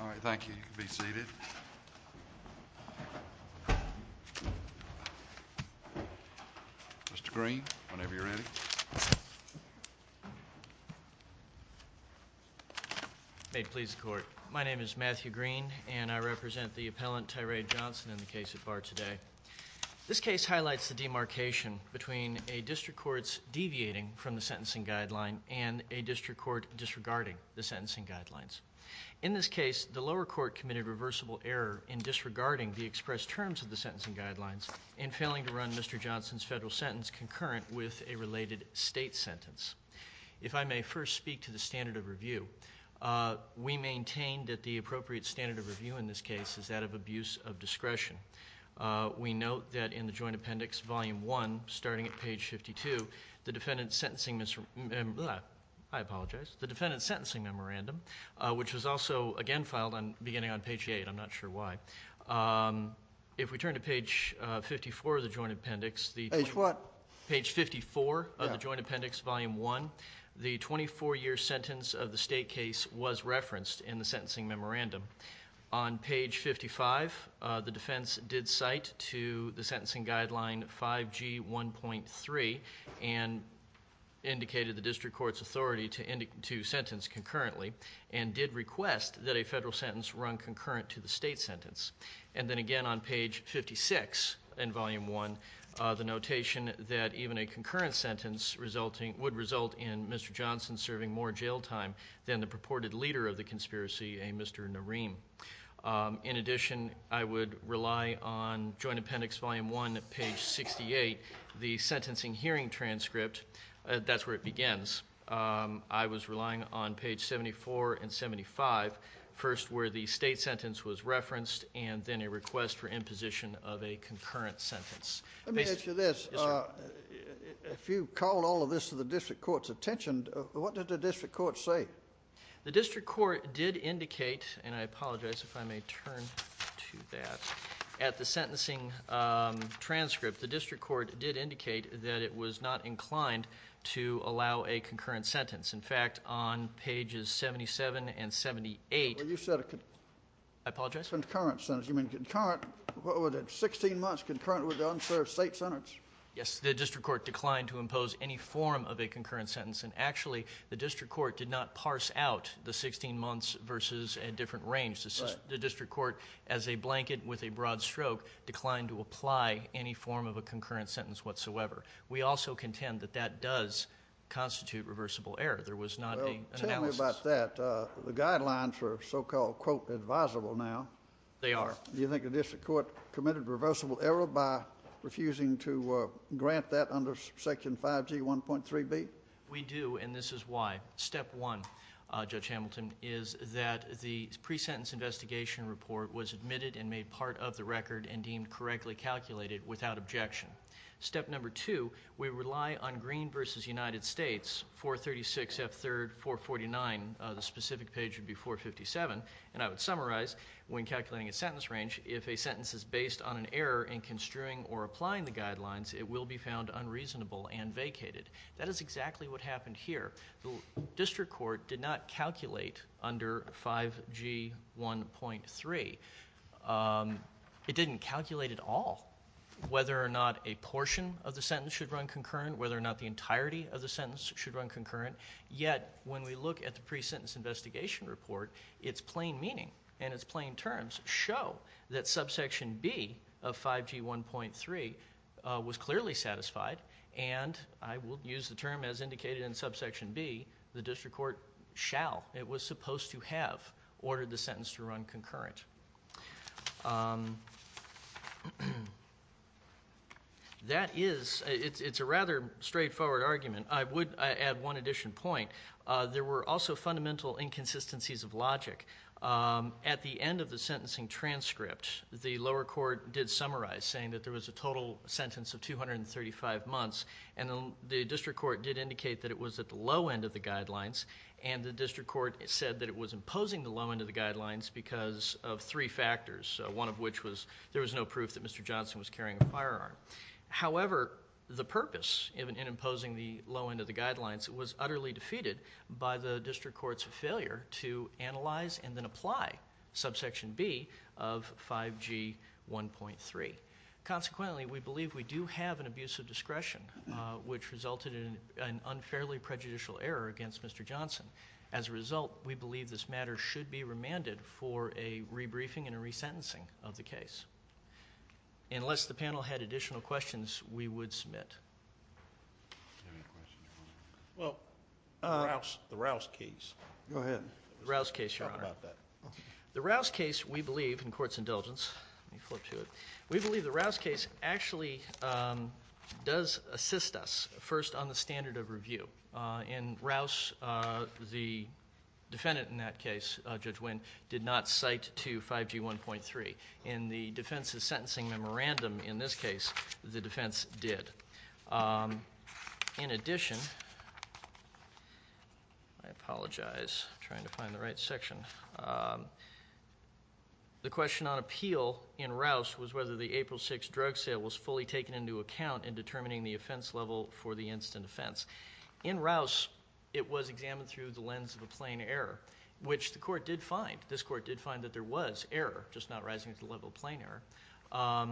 All right, thank you. You can be seated. Mr. Green, whenever you're ready. May it please the Court. My name is Matthew Green, and I represent the appellant Tyre Johnson in the case at bar today. This case highlights the demarcation between a district court's deviating from the sentencing guideline and a district court disregarding the sentencing guidelines. In this case, the lower court committed reversible error in disregarding the expressed terms of the sentencing guidelines and failing to run Mr. Johnson's federal sentence concurrent with a related state sentence. If I may first speak to the standard of review, we maintain that the appropriate standard of review in this case is that of abuse of discretion. We note that in the Joint Appendix, Volume 1, starting at page 52, the defendant's sentencing memorandum, which was also again filed beginning on page 8, I'm not sure why. If we turn to page 54 of the Joint Appendix, Volume 1, the 24-year sentence of the state case was referenced in the sentencing memorandum. On page 55, the defense did cite to the sentencing guideline 5G1.3 and indicated the district court's authority to sentence concurrently and did request that a federal sentence run concurrent to the state sentence. And then again on page 56 in Volume 1, the notation that even a concurrent sentence would result in Mr. Johnson serving more jail time than the purported leader of the conspiracy, a Mr. Nareem. In addition, I would rely on Joint Appendix, Volume 1, page 68, the sentencing hearing transcript. I was relying on page 74 and 75, first where the state sentence was referenced and then a request for imposition of a concurrent sentence. Let me ask you this. Yes, sir. If you called all of this to the district court's attention, what did the district court say? The district court did indicate, and I apologize if I may turn to that. At the sentencing transcript, the district court did indicate that it was not inclined to allow a concurrent sentence. In fact, on pages 77 and 78, I apologize? Concurrent sentence. You mean concurrent, what was it, 16 months concurrent with the unserved state sentence? Yes. The district court declined to impose any form of a concurrent sentence. And actually, the district court did not parse out the 16 months versus a different range. The district court, as a blanket with a broad stroke, declined to apply any form of a concurrent sentence whatsoever. We also contend that that does constitute reversible error. There was not an analysis. Tell me about that. The guidelines are so-called, quote, advisable now. They are. Do you think the district court committed reversible error by refusing to grant that under Section 5G1.3b? We do, and this is why. Step one, Judge Hamilton, is that the pre-sentence investigation report was admitted and made part of the record and deemed correctly calculated without objection. Step number two, we rely on Green v. United States, 436F3rd449. The specific page would be 457. And I would summarize, when calculating a sentence range, if a sentence is based on an error in construing or applying the guidelines, it will be found unreasonable and vacated. That is exactly what happened here. The district court did not calculate under 5G1.3. It didn't calculate at all whether or not a portion of the sentence should run concurrent, whether or not the entirety of the sentence should run concurrent. Yet, when we look at the pre-sentence investigation report, its plain meaning and its plain terms show that Subsection B of 5G1.3 was clearly satisfied, and I will use the term as indicated in Subsection B, the district court shall, it was supposed to have, ordered the sentence to run concurrent. That is, it's a rather straightforward argument. I would add one addition point. There were also fundamental inconsistencies of logic. At the end of the sentencing transcript, the lower court did summarize, saying that there was a total sentence of 235 months, and the district court did indicate that it was at the low end of the guidelines, and the district court said that it was imposing the low end of the guidelines because of three factors, one of which was there was no proof that Mr. Johnson was carrying a firearm. However, the purpose in imposing the low end of the guidelines was utterly defeated by the district court's failure to analyze and then apply Subsection B of 5G1.3. Consequently, we believe we do have an abuse of discretion, which resulted in an unfairly prejudicial error against Mr. Johnson. As a result, we believe this matter should be remanded for a rebriefing and a resentencing of the case. Unless the panel had additional questions, we would submit. Do you have any questions, Your Honor? Well, the Rouse case. Go ahead. The Rouse case, Your Honor. Talk about that. The Rouse case, we believe, in court's indulgence. Let me flip to it. We believe the Rouse case actually does assist us, first, on the standard of review. In Rouse, the defendant in that case, Judge Winn, did not cite to 5G1.3. In the defense's sentencing memorandum in this case, the defense did. In addition, I apologize. I'm trying to find the right section. The question on appeal in Rouse was whether the April 6 drug sale was fully taken into account in determining the offense level for the instant offense. In Rouse, it was examined through the lens of a plain error, which the court did find. This court did find that there was error, just not rising to the level of plain error.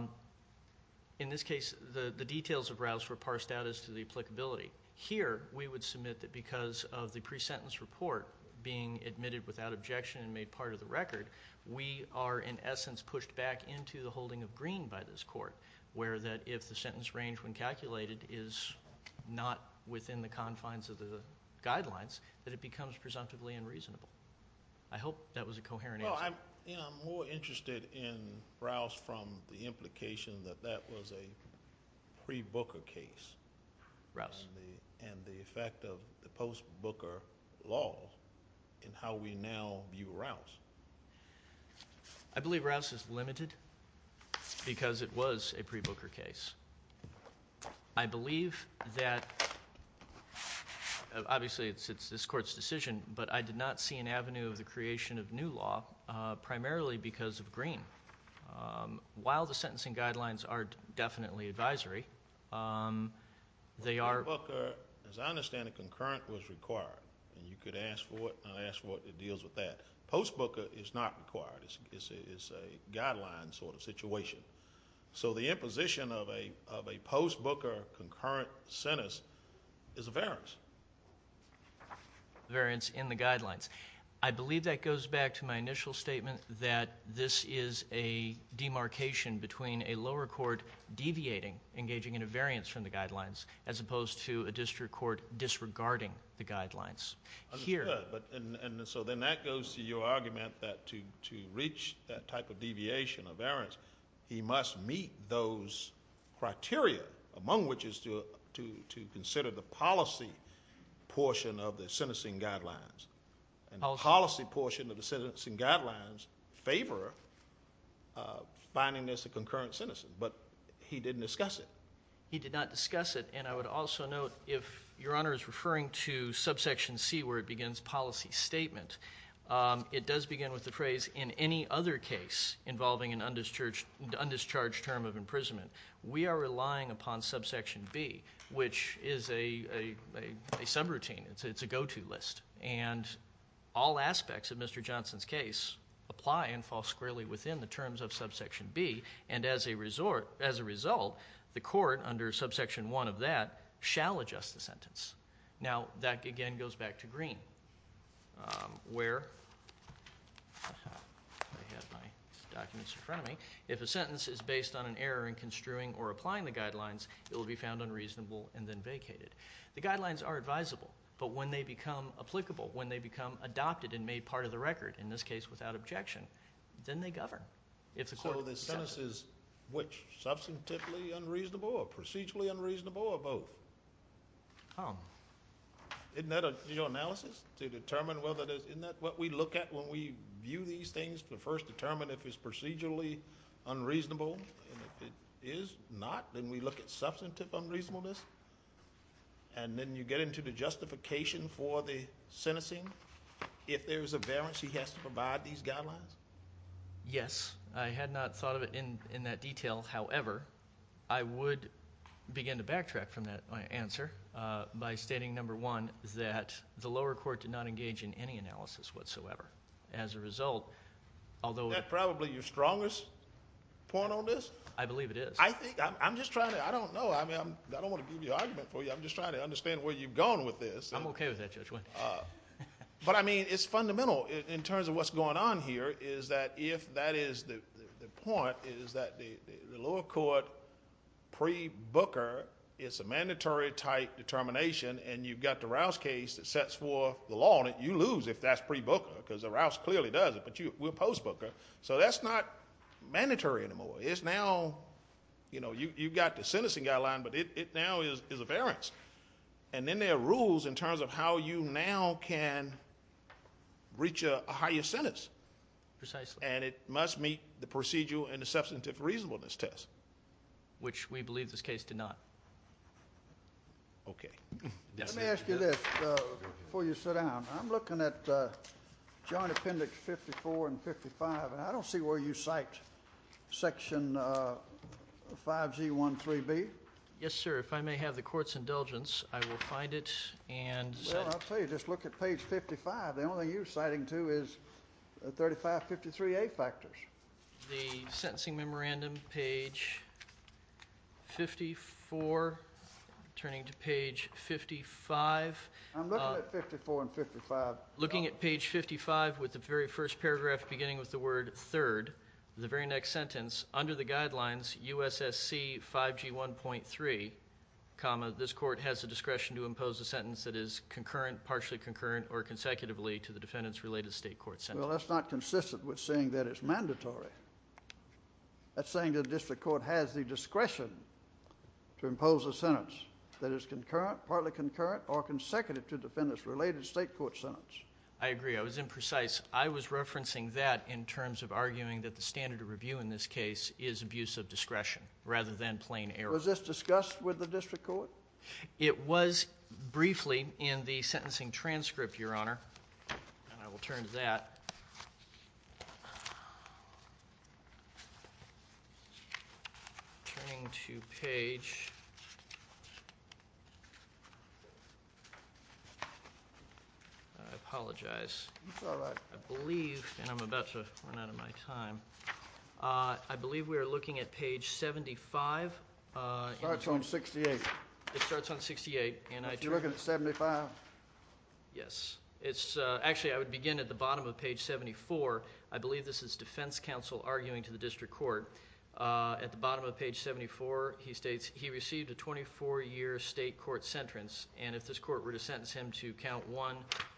In this case, the details of Rouse were parsed out as to the applicability. Here, we would submit that because of the pre-sentence report being admitted without objection and made part of the record, we are, in essence, pushed back into the holding of green by this court, where that if the sentence range when calculated is not within the confines of the guidelines, that it becomes presumptively unreasonable. I hope that was a coherent answer. Well, I'm more interested in Rouse from the implication that that was a pre-Booker case. Rouse. And the effect of the post-Booker law in how we now view Rouse. I believe Rouse is limited because it was a pre-Booker case. I believe that, obviously, it's this court's decision, but I did not see an avenue of the creation of new law primarily because of green. While the sentencing guidelines are definitely advisory, they are. Post-Booker, as I understand it, concurrent was required, and you could ask for it, and I ask for it, it deals with that. Post-Booker is not required. It's a guideline sort of situation. So the imposition of a post-Booker concurrent sentence is a variance. Variance in the guidelines. I believe that goes back to my initial statement that this is a demarcation between a lower court deviating, engaging in a variance from the guidelines, as opposed to a district court disregarding the guidelines. Understood. And so then that goes to your argument that to reach that type of deviation, a variance, he must meet those criteria, among which is to consider the policy portion of the sentencing guidelines. And the policy portion of the sentencing guidelines favor finding this a concurrent sentence, but he didn't discuss it. He did not discuss it, and I would also note if Your Honor is referring to subsection C where it begins policy statement, it does begin with the phrase, in any other case involving an undischarged term of imprisonment, we are relying upon subsection B, which is a subroutine. It's a go-to list. And all aspects of Mr. Johnson's case apply and fall squarely within the terms of subsection B, and as a result, the court, under subsection 1 of that, shall adjust the sentence. Now, that again goes back to Green, where I have my documents in front of me. If a sentence is based on an error in construing or applying the guidelines, it will be found unreasonable and then vacated. The guidelines are advisable, but when they become applicable, when they become adopted and made part of the record, in this case without objection, then they govern. So the sentence is which? Substantively unreasonable or procedurally unreasonable or both? Isn't that a general analysis to determine whether it is? Isn't that what we look at when we view these things to first determine if it's procedurally unreasonable? If it is not, then we look at substantive unreasonableness, and then you get into the justification for the sentencing if there's a variance he has to provide these guidelines? Yes. I had not thought of it in that detail. However, I would begin to backtrack from that answer by stating, number one, that the lower court did not engage in any analysis whatsoever. As a result, although- Is that probably your strongest point on this? I believe it is. I'm just trying to – I don't know. I don't want to give you an argument for you. I'm just trying to understand where you've gone with this. I'm okay with that, Judge Wendy. But, I mean, it's fundamental in terms of what's going on here, is that if that is the point, is that the lower court pre-Booker is a mandatory type determination, and you've got the Rouse case that sets forth the law, and you lose if that's pre-Booker, because the Rouse clearly does it, but we're post-Booker. So that's not mandatory anymore. It's now, you know, you've got the sentencing guideline, but it now is a variance. And then there are rules in terms of how you now can reach a higher sentence. Precisely. And it must meet the procedural and the substantive reasonableness test. Which we believe this case did not. Okay. Let me ask you this before you sit down. I'm looking at Joint Appendix 54 and 55, and I don't see where you cite Section 5G13B. Yes, sir. If I may have the court's indulgence, I will find it and cite it. Well, I'll tell you, just look at page 55. The only thing you're citing to is 3553A factors. The sentencing memorandum, page 54, turning to page 55. I'm looking at 54 and 55. Looking at page 55 with the very first paragraph beginning with the word third, the very next sentence, under the guidelines, U.S.S.C. 5G1.3, comma, this court has the discretion to impose a sentence that is concurrent, partially concurrent, or consecutively to the defendant's related state court sentence. Well, that's not consistent with saying that it's mandatory. That's saying the district court has the discretion to impose a sentence that is concurrent, partly concurrent, or consecutive to the defendant's related state court sentence. I agree. I was imprecise. I was referencing that in terms of arguing that the standard of review in this case is abuse of discretion rather than plain error. Was this discussed with the district court? It was briefly in the sentencing transcript, Your Honor. And I will turn to that. Turning to page. I apologize. It's all right. I believe, and I'm about to run out of my time. I believe we are looking at page 75. It starts on 68. It starts on 68. Are you looking at 75? Yes. Actually, I would begin at the bottom of page 74. I believe this is defense counsel arguing to the district court. At the bottom of page 74, he states he received a 24-year state court sentence, and if this court were to sentence him to count one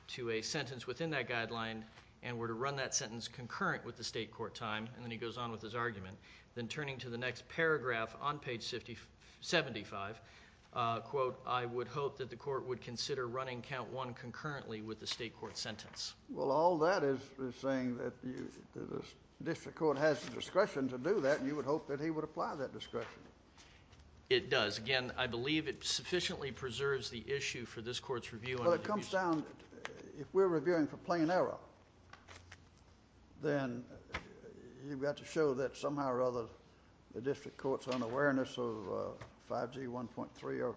to a sentence within that guideline and were to run that sentence concurrent with the state court time, and then he goes on with his argument, then turning to the next paragraph on page 75, quote, I would hope that the court would consider running count one concurrently with the state court sentence. Well, all that is saying that the district court has the discretion to do that, and you would hope that he would apply that discretion. It does. Again, I believe it sufficiently preserves the issue for this court's review. Well, it comes down, if we're reviewing for plain error, then you've got to show that somehow or other the district court's unawareness of 5G 1.3 or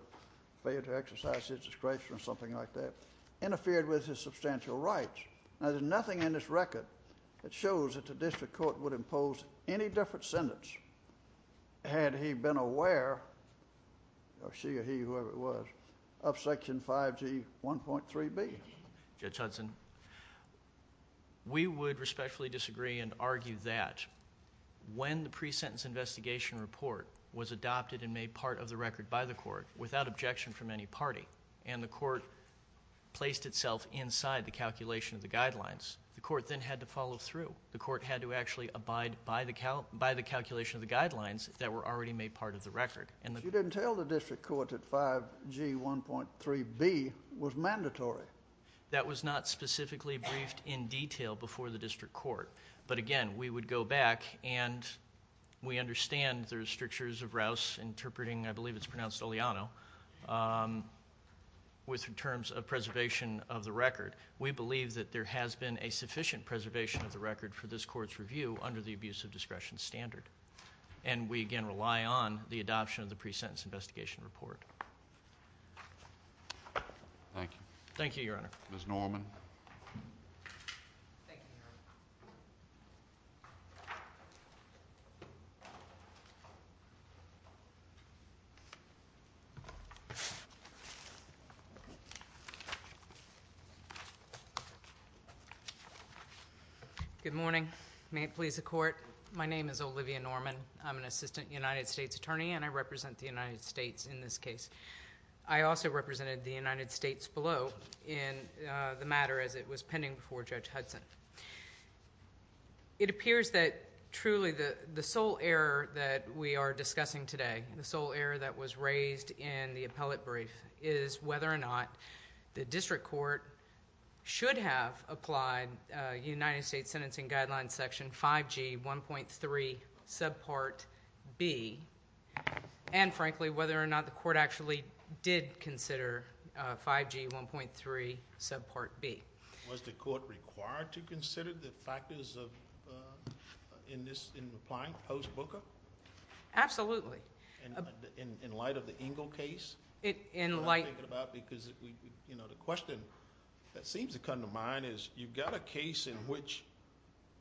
failure to exercise his discretion or something like that interfered with his substantial rights. Now, there's nothing in this record that shows that the district court would impose any different sentence had he been aware, or she or he, whoever it was, of Section 5G 1.3B. Judge Hudson, we would respectfully disagree and argue that when the pre-sentence investigation report was adopted and made part of the record by the court without objection from any party and the court placed itself inside the calculation of the guidelines, the court then had to follow through. The court had to actually abide by the calculation of the guidelines that were already made part of the record. But you didn't tell the district court that 5G 1.3B was mandatory. That was not specifically briefed in detail before the district court. But again, we would go back, and we understand there's strictures of Rouse interpreting, I believe it's pronounced Oliano, with terms of preservation of the record. We believe that there has been a sufficient preservation of the record for this court's review under the abuse of discretion standard. And we again rely on the adoption of the pre-sentence investigation report. Thank you. Thank you, Your Honor. Thank you, Your Honor. Good morning. May it please the court, my name is Olivia Norman. I'm an assistant United States attorney, and I represent the United States in this case. I also represented the United States below in the matter as it was pending before Judge Hudson. It appears that truly the sole error that we are discussing today, the sole error that was raised in the appellate brief, is whether or not the district court should have applied United States Sentencing Guidelines Section 5G 1.3 subpart B, and frankly, whether or not the court actually did consider 5G 1.3 subpart B. Was the court required to consider the factors in applying post-booker? Absolutely. In light of the Engle case? In light of it. Because, you know, the question that seems to come to mind is you've got a case in which,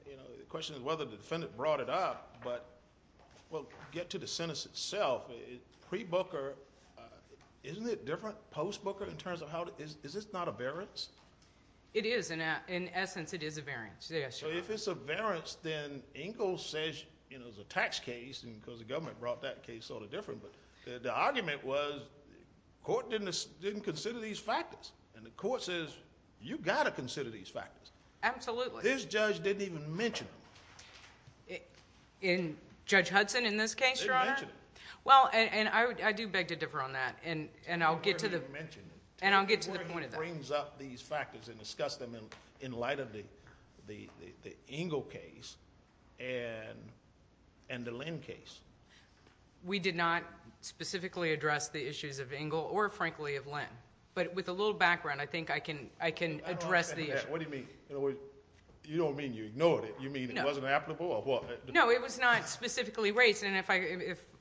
you know, the question is whether the defendant brought it up, but we'll get to the sentence itself. Pre-booker, isn't it different post-booker in terms of how to – is this not a variance? It is. In essence, it is a variance. Yes, Your Honor. If it's a variance, then Engle says, you know, it's a tax case because the government brought that case sort of different, but the argument was the court didn't consider these factors, and the court says you've got to consider these factors. Absolutely. This judge didn't even mention them. In Judge Hudson, in this case, Your Honor? Didn't mention them. Well, and I do beg to differ on that, and I'll get to the point of that. The Engle case and the Linn case. We did not specifically address the issues of Engle or, frankly, of Linn. But with a little background, I think I can address the issue. What do you mean? You don't mean you ignored it? You mean it wasn't applicable or what? No, it was not specifically raised, and if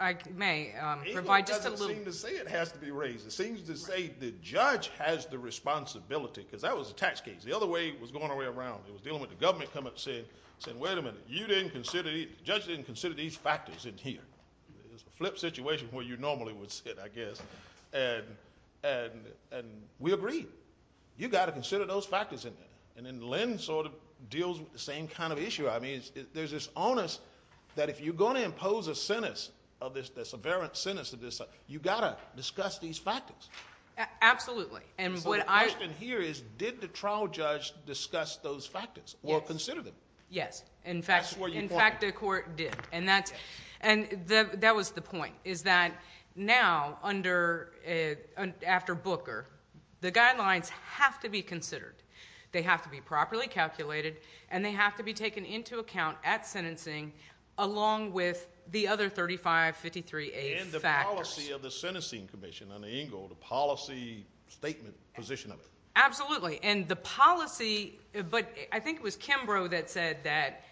I may provide just a little – Engle doesn't seem to say it has to be raised. It seems to say the judge has the responsibility because that was a tax case. The other way it was going around, it was dealing with the government coming and saying, wait a minute, the judge didn't consider these factors in here. It was a flip situation where you normally would sit, I guess, and we agreed. You've got to consider those factors in there. And then Linn sort of deals with the same kind of issue. I mean, there's this onus that if you're going to impose a sentence, the severance sentence of this, you've got to discuss these factors. Absolutely. So the question here is, did the trial judge discuss those factors or consider them? Yes. In fact, the court did. And that was the point, is that now, after Booker, the guidelines have to be considered. They have to be properly calculated, and they have to be taken into account at sentencing along with the other 3553A factors. And the policy of the sentencing commission under Ingle, the policy statement position of it. Absolutely. And the policy – but I think it was Kimbrough that said that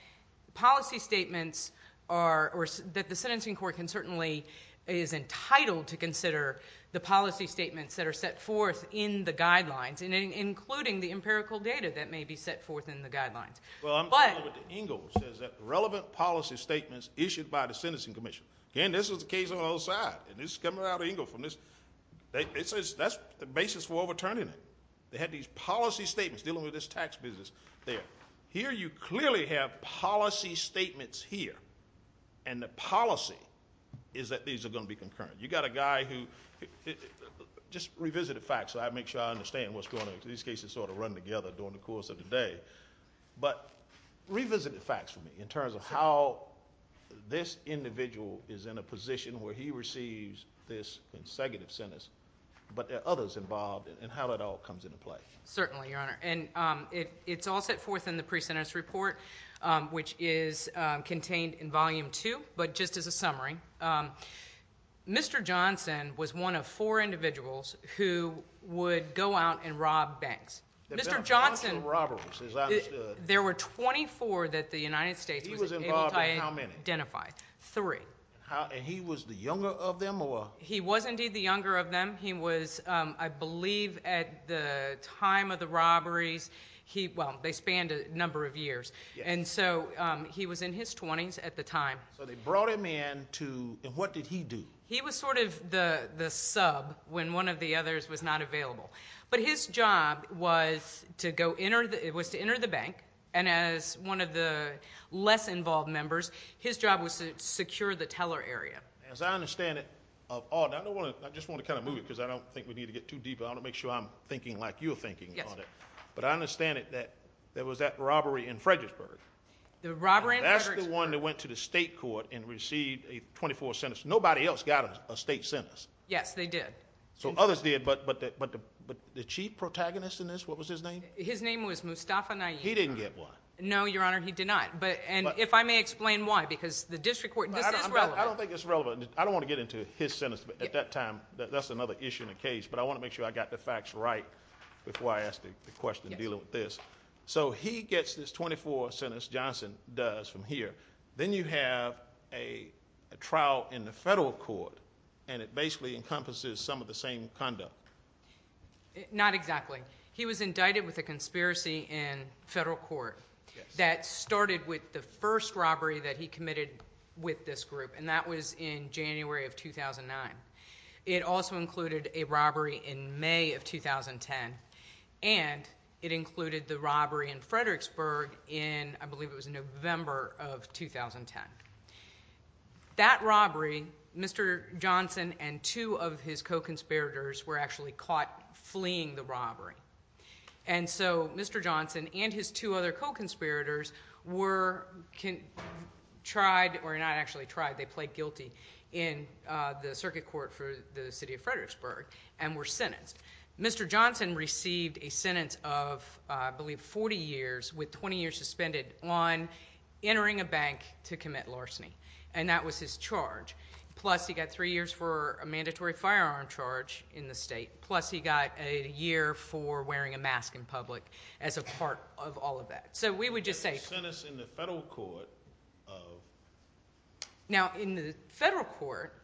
policy statements are – or that the sentencing court can certainly – is entitled to consider the policy statements that are set forth in the guidelines, including the empirical data that may be set forth in the guidelines. Well, I'm talking about what Ingle says, that relevant policy statements issued by the sentencing commission. Again, this was the case on the other side, and this is coming out of Ingle from this – that's the basis for overturning it. They had these policy statements dealing with this tax business there. Here you clearly have policy statements here, and the policy is that these are going to be concurrent. You've got a guy who – just revisit the facts so I make sure I understand what's going on. These cases sort of run together during the course of the day. But revisit the facts for me in terms of how this individual is in a position where he receives this consecutive sentence, but there are others involved, and how that all comes into play. Certainly, Your Honor. And it's all set forth in the pre-sentence report, which is contained in Volume 2. But just as a summary, Mr. Johnson was one of four individuals who would go out and rob banks. There were 24 robberies, as I understood. There were 24 that the United States was able to identify. He was involved in how many? Three. And he was the younger of them? He was indeed the younger of them. He was, I believe, at the time of the robberies – well, they spanned a number of years. And so he was in his 20s at the time. So they brought him in to – and what did he do? He was sort of the sub when one of the others was not available. But his job was to enter the bank, and as one of the less-involved members, his job was to secure the teller area. As I understand it, I just want to kind of move it because I don't think we need to get too deep. I want to make sure I'm thinking like you're thinking on it. But I understand that there was that robbery in Fredericksburg. The robbery in Fredericksburg. That's the one that went to the state court and received a 24th sentence. Nobody else got a state sentence. Yes, they did. So others did, but the chief protagonist in this, what was his name? His name was Mustafa Nayeem. He didn't get one. No, Your Honor, he did not. And if I may explain why, because the district court – this is relevant. I don't think it's relevant. I don't want to get into his sentence at that time. That's another issue in the case. But I want to make sure I got the facts right before I ask the question dealing with this. So he gets this 24th sentence. Johnson does from here. Then you have a trial in the federal court, and it basically encompasses some of the same conduct. Not exactly. He was indicted with a conspiracy in federal court that started with the first robbery that he committed with this group, and that was in January of 2009. It also included a robbery in May of 2010, and it included the robbery in Fredericksburg in, I believe it was November of 2010. That robbery, Mr. Johnson and two of his co-conspirators were actually caught fleeing the robbery. And so Mr. Johnson and his two other co-conspirators were tried – or not actually tried, they pled guilty in the circuit court for the city of Fredericksburg and were sentenced. Mr. Johnson received a sentence of, I believe, 40 years with 20 years suspended on entering a bank to commit larceny, and that was his charge. Plus he got three years for a mandatory firearm charge in the state, plus he got a year for wearing a mask in public as a part of all of that. So we would just say – A sentence in the federal court of? Now, in the federal court,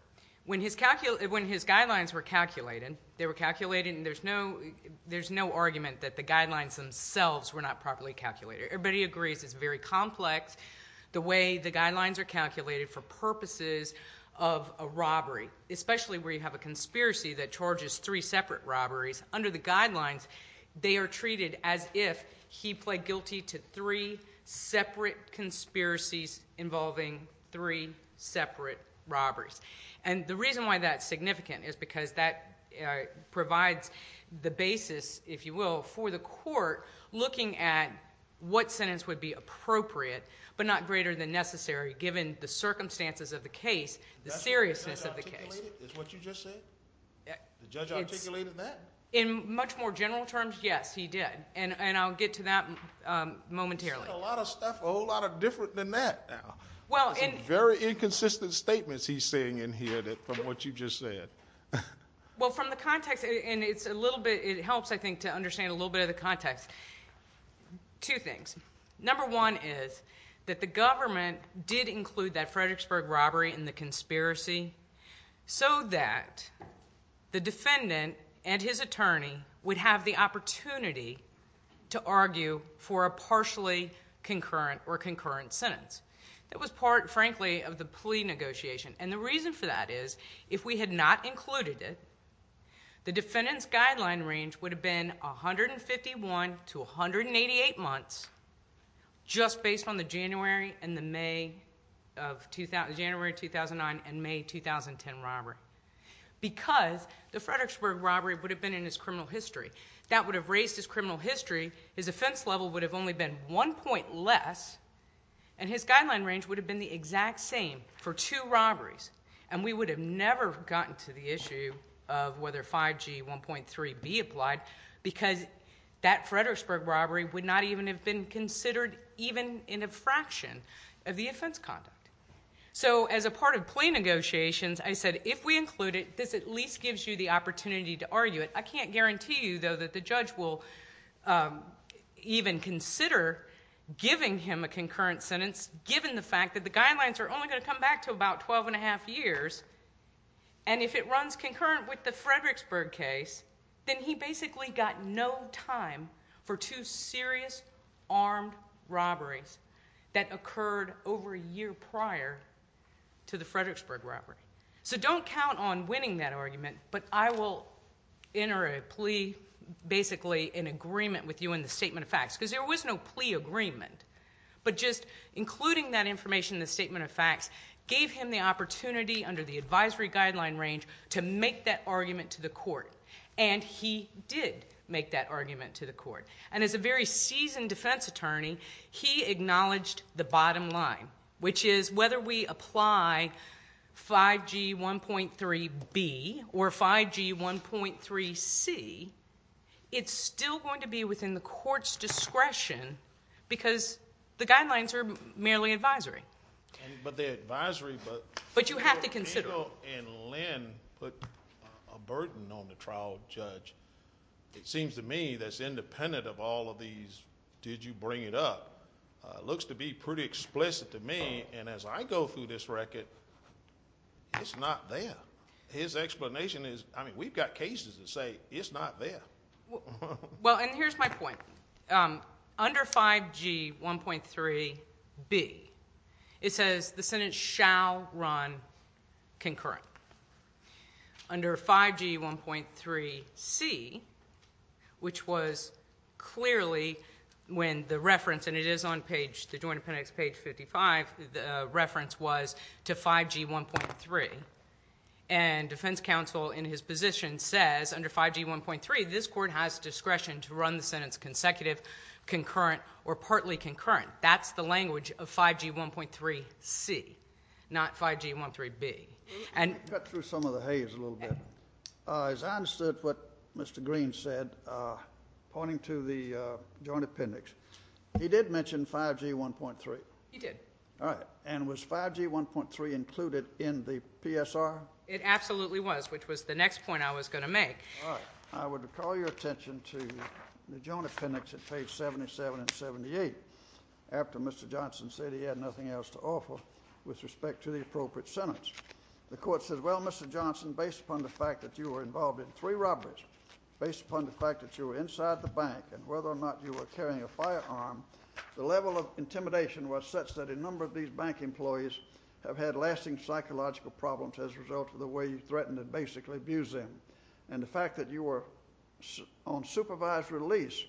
when his guidelines were calculated, they were calculated and there's no argument that the guidelines themselves were not properly calculated. Everybody agrees it's very complex the way the guidelines are calculated for purposes of a robbery, especially where you have a conspiracy that charges three separate robberies. Under the guidelines, they are treated as if he pled guilty to three separate conspiracies involving three separate robberies. And the reason why that's significant is because that provides the basis, if you will, for the court looking at what sentence would be appropriate but not greater than necessary given the circumstances of the case, the seriousness of the case. That's what the judge articulated, is what you just said? The judge articulated that? In much more general terms, yes, he did, and I'll get to that momentarily. He said a lot of stuff, a whole lot of different than that now. Some very inconsistent statements he's saying in here from what you just said. Well, from the context, and it helps, I think, to understand a little bit of the context, two things. Number one is that the government did include that Fredericksburg robbery in the conspiracy so that the defendant and his attorney would have the opportunity to argue for a partially concurrent or concurrent sentence. That was part, frankly, of the plea negotiation, and the reason for that is if we had not included it, the defendant's guideline range would have been 151 to 188 months just based on the January 2009 and May 2010 robbery because the Fredericksburg robbery would have been in his criminal history. That would have raised his criminal history. His offense level would have only been one point less, and his guideline range would have been the exact same for two robberies, and we would have never gotten to the issue of whether 5G 1.3 be applied because that Fredericksburg robbery would not even have been considered even in a fraction of the offense conduct. So as a part of plea negotiations, I said if we include it, this at least gives you the opportunity to argue it. I can't guarantee you, though, that the judge will even consider giving him a concurrent sentence given the fact that the guidelines are only going to come back to about 12 1⁄2 years, and if it runs concurrent with the Fredericksburg case, then he basically got no time for two serious armed robberies that occurred over a year prior to the Fredericksburg robbery. So don't count on winning that argument, but I will enter a plea basically in agreement with you in the statement of facts because there was no plea agreement, but just including that information in the statement of facts gave him the opportunity under the advisory guideline range to make that argument to the court, and he did make that argument to the court. And as a very seasoned defense attorney, he acknowledged the bottom line, which is whether we apply 5G 1.3B or 5G 1.3C, it's still going to be within the court's discretion because the guidelines are merely advisory. But the advisory book. But you have to consider it. Andrew and Lynn put a burden on the trial judge. It seems to me that's independent of all of these did you bring it up. Looks to be pretty explicit to me, and as I go through this record, it's not there. His explanation is, I mean, we've got cases that say it's not there. Well, and here's my point. Under 5G 1.3B, it says the sentence shall run concurrent. Under 5G 1.3C, which was clearly when the reference, and it is on the Joint Appendix page 55, the reference was to 5G 1.3, and defense counsel in his position says under 5G 1.3, this court has discretion to run the sentence consecutive, concurrent, or partly concurrent. That's the language of 5G 1.3C, not 5G 1.3B. Let me cut through some of the haze a little bit. As I understood what Mr. Green said, pointing to the Joint Appendix, he did mention 5G 1.3. He did. All right. And was 5G 1.3 included in the PSR? It absolutely was, which was the next point I was going to make. All right. I would call your attention to the Joint Appendix at page 77 and 78, after Mr. Johnson said he had nothing else to offer with respect to the appropriate sentence. The court says, well, Mr. Johnson, based upon the fact that you were involved in three robberies, based upon the fact that you were inside the bank and whether or not you were carrying a firearm, the level of intimidation was such that a number of these bank employees have had lasting psychological problems as a result of the way you threatened to basically abuse them. And the fact that you were on supervised release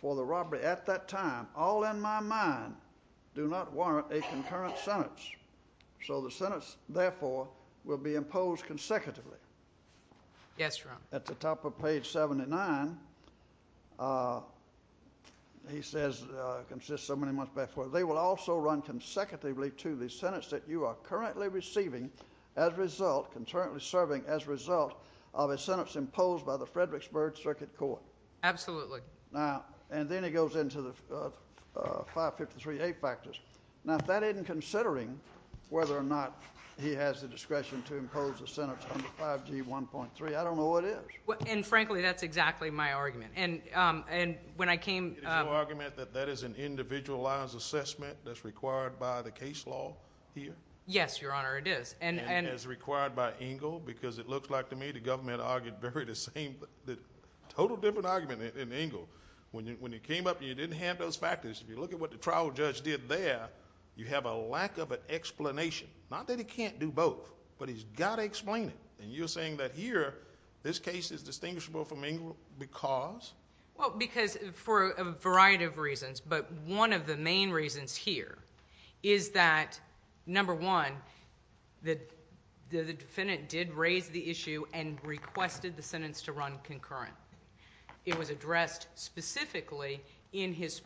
for the robbery at that time, all in my mind, do not warrant a concurrent sentence. So the sentence, therefore, will be imposed consecutively. Yes, Your Honor. At the top of page 79, he says, consists so many months before, they will also run consecutively to the sentence that you are currently receiving as a result, concurrently serving as a result of a sentence imposed by the Fredericksburg Circuit Court. Absolutely. Now, and then he goes into the 553A factors. Now, if that isn't considering whether or not he has the discretion to impose a sentence under 5G1.3, I don't know what is. And, frankly, that's exactly my argument. And when I came… Is your argument that that is an individualized assessment that's required by the case law here? Yes, Your Honor, it is. And is it required by Engle? Because it looks like to me the government argued very the same, total different argument in Engle. When you came up and you didn't have those factors, if you look at what the trial judge did there, you have a lack of an explanation. Not that he can't do both, but he's got to explain it. And you're saying that here this case is distinguishable from Engle because? Well, because for a variety of reasons. But one of the main reasons here is that, number one, the defendant did raise the issue and requested the sentence to run concurrent. It was addressed specifically in his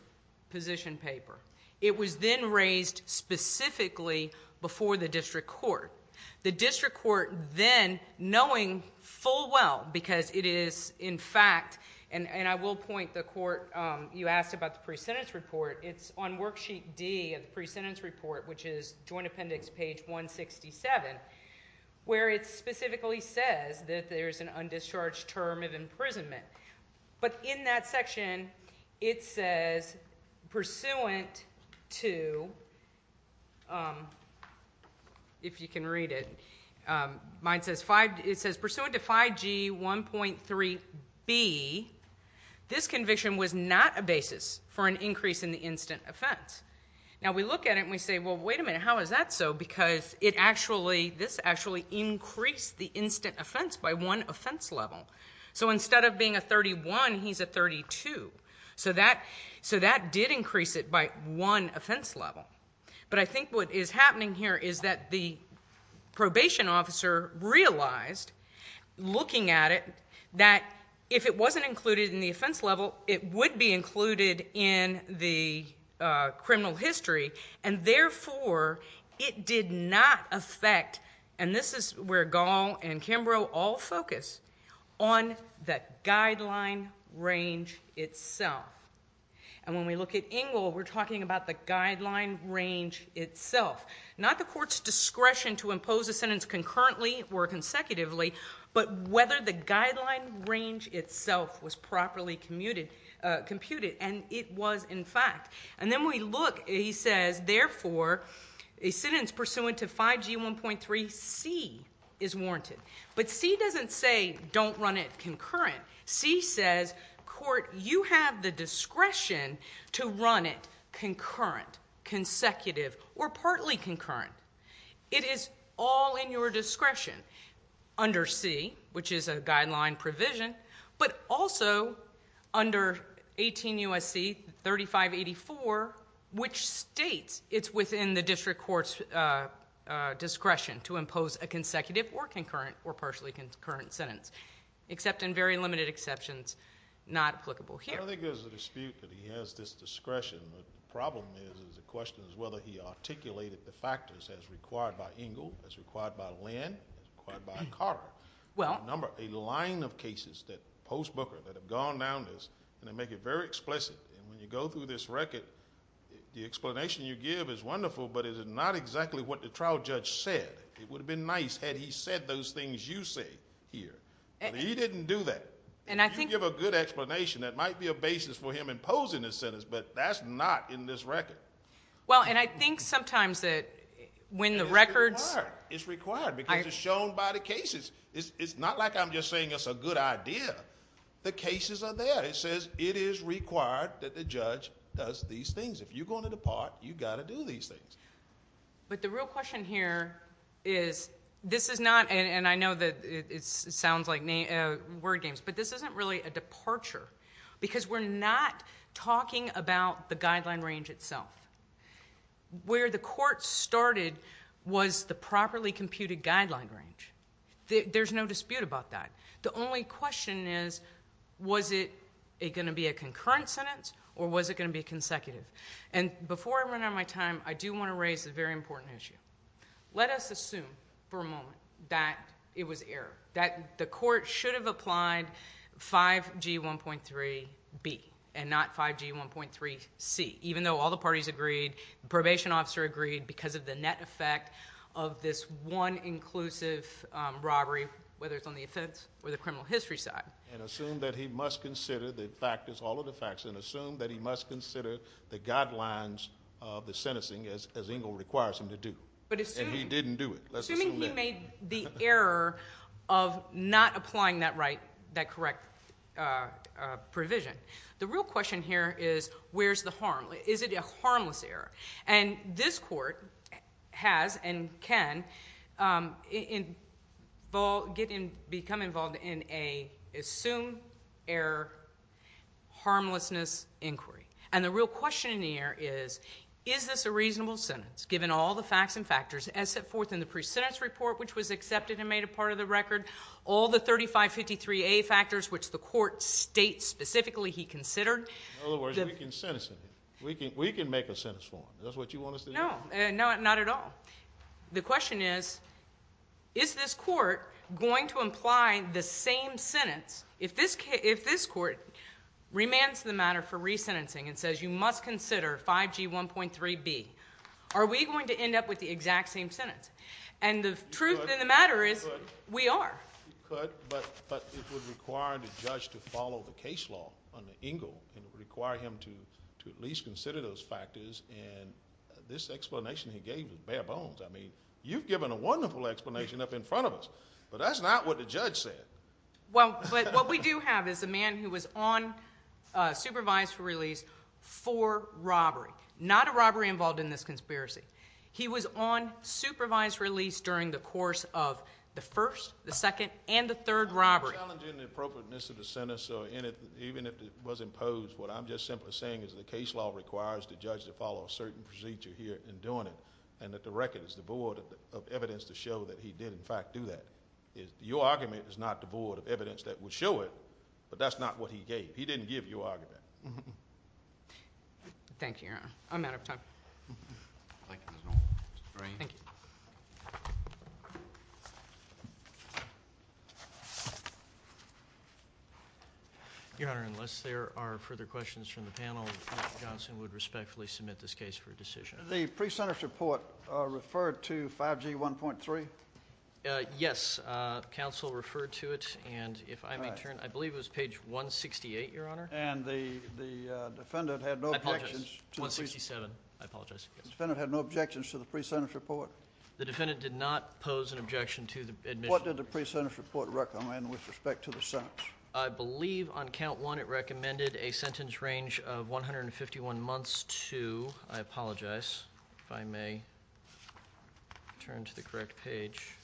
position paper. It was then raised specifically before the district court. The district court then, knowing full well, because it is, in fact, and I will point the court, you asked about the pre-sentence report. It's on worksheet D of the pre-sentence report, which is Joint Appendix page 167, where it specifically says that there's an undischarged term of imprisonment. But in that section, it says, pursuant to, if you can read it, it says, pursuant to 5G1.3B, this conviction was not a basis for an increase in the instant offense. Now, we look at it and we say, well, wait a minute, how is that so? Because this actually increased the instant offense by one offense level. So instead of being a 31, he's a 32. So that did increase it by one offense level. But I think what is happening here is that the probation officer realized, looking at it, that if it wasn't included in the offense level, it would be included in the criminal history. And therefore, it did not affect, and this is where Gall and Kimbrough all focus, on the guideline range itself. And when we look at Engle, we're talking about the guideline range itself. Not the court's discretion to impose a sentence concurrently or consecutively, but whether the guideline range itself was properly computed. And it was, in fact. And then we look, he says, therefore, a sentence pursuant to 5G1.3C is warranted. But C doesn't say, don't run it concurrent. C says, court, you have the discretion to run it concurrent, consecutive, or partly concurrent. It is all in your discretion under C, which is a guideline provision, but also under 18 U.S.C. 3584, which states it's within the district court's discretion to impose a consecutive or concurrent or partially concurrent sentence. Except in very limited exceptions, not applicable here. I think there's a dispute that he has this discretion. The problem is, is the question is whether he articulated the factors as required by Engle, as required by Lynn, as required by Carter. A number, a line of cases that, post-Booker, that have gone down this, and they make it very explicit. And when you go through this record, the explanation you give is wonderful, but it is not exactly what the trial judge said. It would have been nice had he said those things you say here. But he didn't do that. If you give a good explanation, that might be a basis for him imposing his sentence, but that's not in this record. Well, and I think sometimes that when the records. It's required, because it's shown by the cases. It's not like I'm just saying it's a good idea. The cases are there. It says it is required that the judge does these things. If you're going to depart, you've got to do these things. But the real question here is, this is not, and I know that it sounds like word games, but this isn't really a departure. Because we're not talking about the guideline range itself. Where the court started was the properly computed guideline range. There's no dispute about that. The only question is, was it going to be a concurrent sentence, or was it going to be consecutive? And before I run out of my time, I do want to raise a very important issue. Let us assume for a moment that it was error, that the court should have applied 5G1.3B and not 5G1.3C. Even though all the parties agreed, the probation officer agreed, because of the net effect of this one inclusive robbery, whether it's on the offense or the criminal history side. And assume that he must consider the factors, all of the factors, and assume that he must consider the guidelines of the sentencing as Engle requires him to do. And he didn't do it. Let's assume that. Assuming he made the error of not applying that correct provision. The real question here is, where's the harm? Is it a harmless error? And this court has and can become involved in a assumed error, harmlessness inquiry. And the real question here is, is this a reasonable sentence, given all the facts and factors, as set forth in the pre-sentence report, which was accepted and made a part of the record, all the 3553A factors, which the court states specifically he considered? In other words, we can sentence him. We can make a sentence for him. Is that what you want us to do? No, not at all. The question is, is this court going to imply the same sentence if this court remands the matter for re-sentencing and says you must consider 5G1.3B? Are we going to end up with the exact same sentence? And the truth of the matter is, we are. You could, but it would require the judge to follow the case law on Engle and require him to at least consider those factors, and this explanation he gave is bare bones. I mean, you've given a wonderful explanation up in front of us, but that's not what the judge said. Well, what we do have is a man who was on supervised release for robbery, not a robbery involved in this conspiracy. He was on supervised release during the course of the first, the second, and the third robbery. I'm challenging the appropriateness of the sentence, so even if it was imposed, what I'm just simply saying is the case law requires the judge to follow a certain procedure here in doing it, and that the record is devoid of evidence to show that he did, in fact, do that. Your argument is not devoid of evidence that would show it, but that's not what he gave. He didn't give your argument. Thank you, Your Honor. I'm out of time. Thank you, Ms. Norwood. Mr. Drain. Thank you. Your Honor, unless there are further questions from the panel, Mr. Johnson would respectfully submit this case for a decision. The pre-sentence report referred to 5G 1.3? Yes. Counsel referred to it, and if I may turn. I believe it was page 168, Your Honor. And the defendant had no objections. I apologize. 167. I apologize. The defendant had no objections to the pre-sentence report? The defendant did not pose an objection to the admission. What did the pre-sentence report recommend with respect to the sentence? I believe on count one it recommended a sentence range of 151 months to, I apologize if I may turn to the correct page,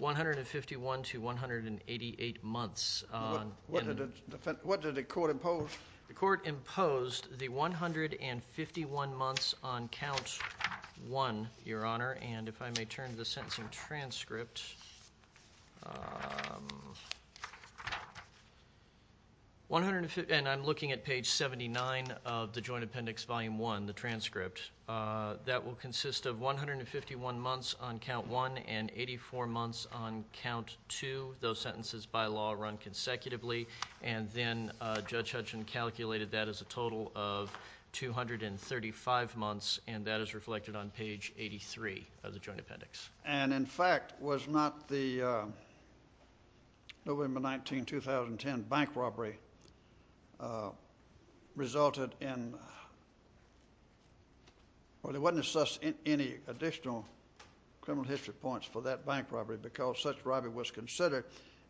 151 to 188 months. What did the court impose? The court imposed the 151 months on count one, Your Honor. And if I may turn to the sentencing transcript. And I'm looking at page 79 of the Joint Appendix Volume 1, the transcript. That will consist of 151 months on count one and 84 months on count two. Those sentences by law run consecutively. And then Judge Hutchin calculated that as a total of 235 months, and that is reflected on page 83 of the Joint Appendix. And, in fact, was not the November 19, 2010 bank robbery resulted in or there wasn't any additional criminal history points for that bank robbery because such robbery was considered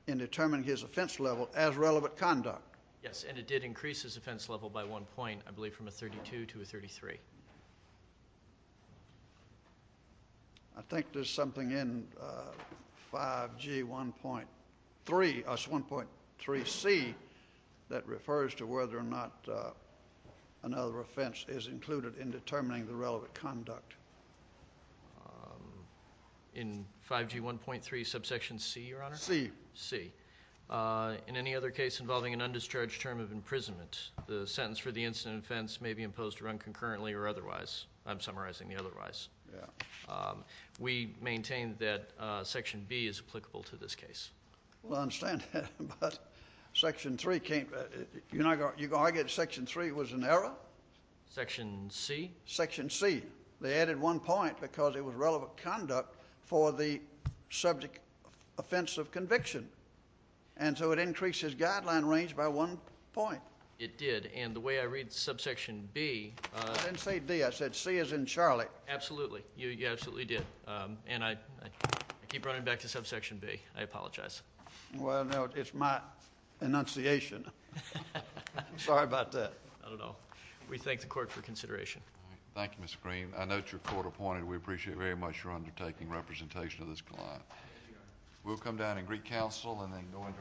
in determining his offense level as relevant conduct. Yes, and it did increase his offense level by one point, I believe, from a 32 to a 33. I think there's something in 5G 1.3, 1.3C, that refers to whether or not another offense is included in determining the relevant conduct. In 5G 1.3 subsection C, Your Honor? C. C. In any other case involving an undischarged term of imprisonment, the sentence for the incident offense may be imposed to run concurrently or otherwise. I'm summarizing the otherwise. Yeah. We maintain that Section B is applicable to this case. Well, I understand that. But Section 3 can't. You're going to argue that Section 3 was an error? Section C. Section C. They added one point because it was relevant conduct for the subject offense of conviction, and so it increased his guideline range by one point. It did, and the way I read subsection B. I didn't say D. I said C as in Charlie. Absolutely. You absolutely did, and I keep running back to subsection B. I apologize. Well, no, it's my enunciation. Sorry about that. I don't know. We thank the court for consideration. Thank you, Mr. Green. I note you're court appointed. We appreciate very much your undertaking representation of this client. We'll come down and greet counsel and then go into our last case.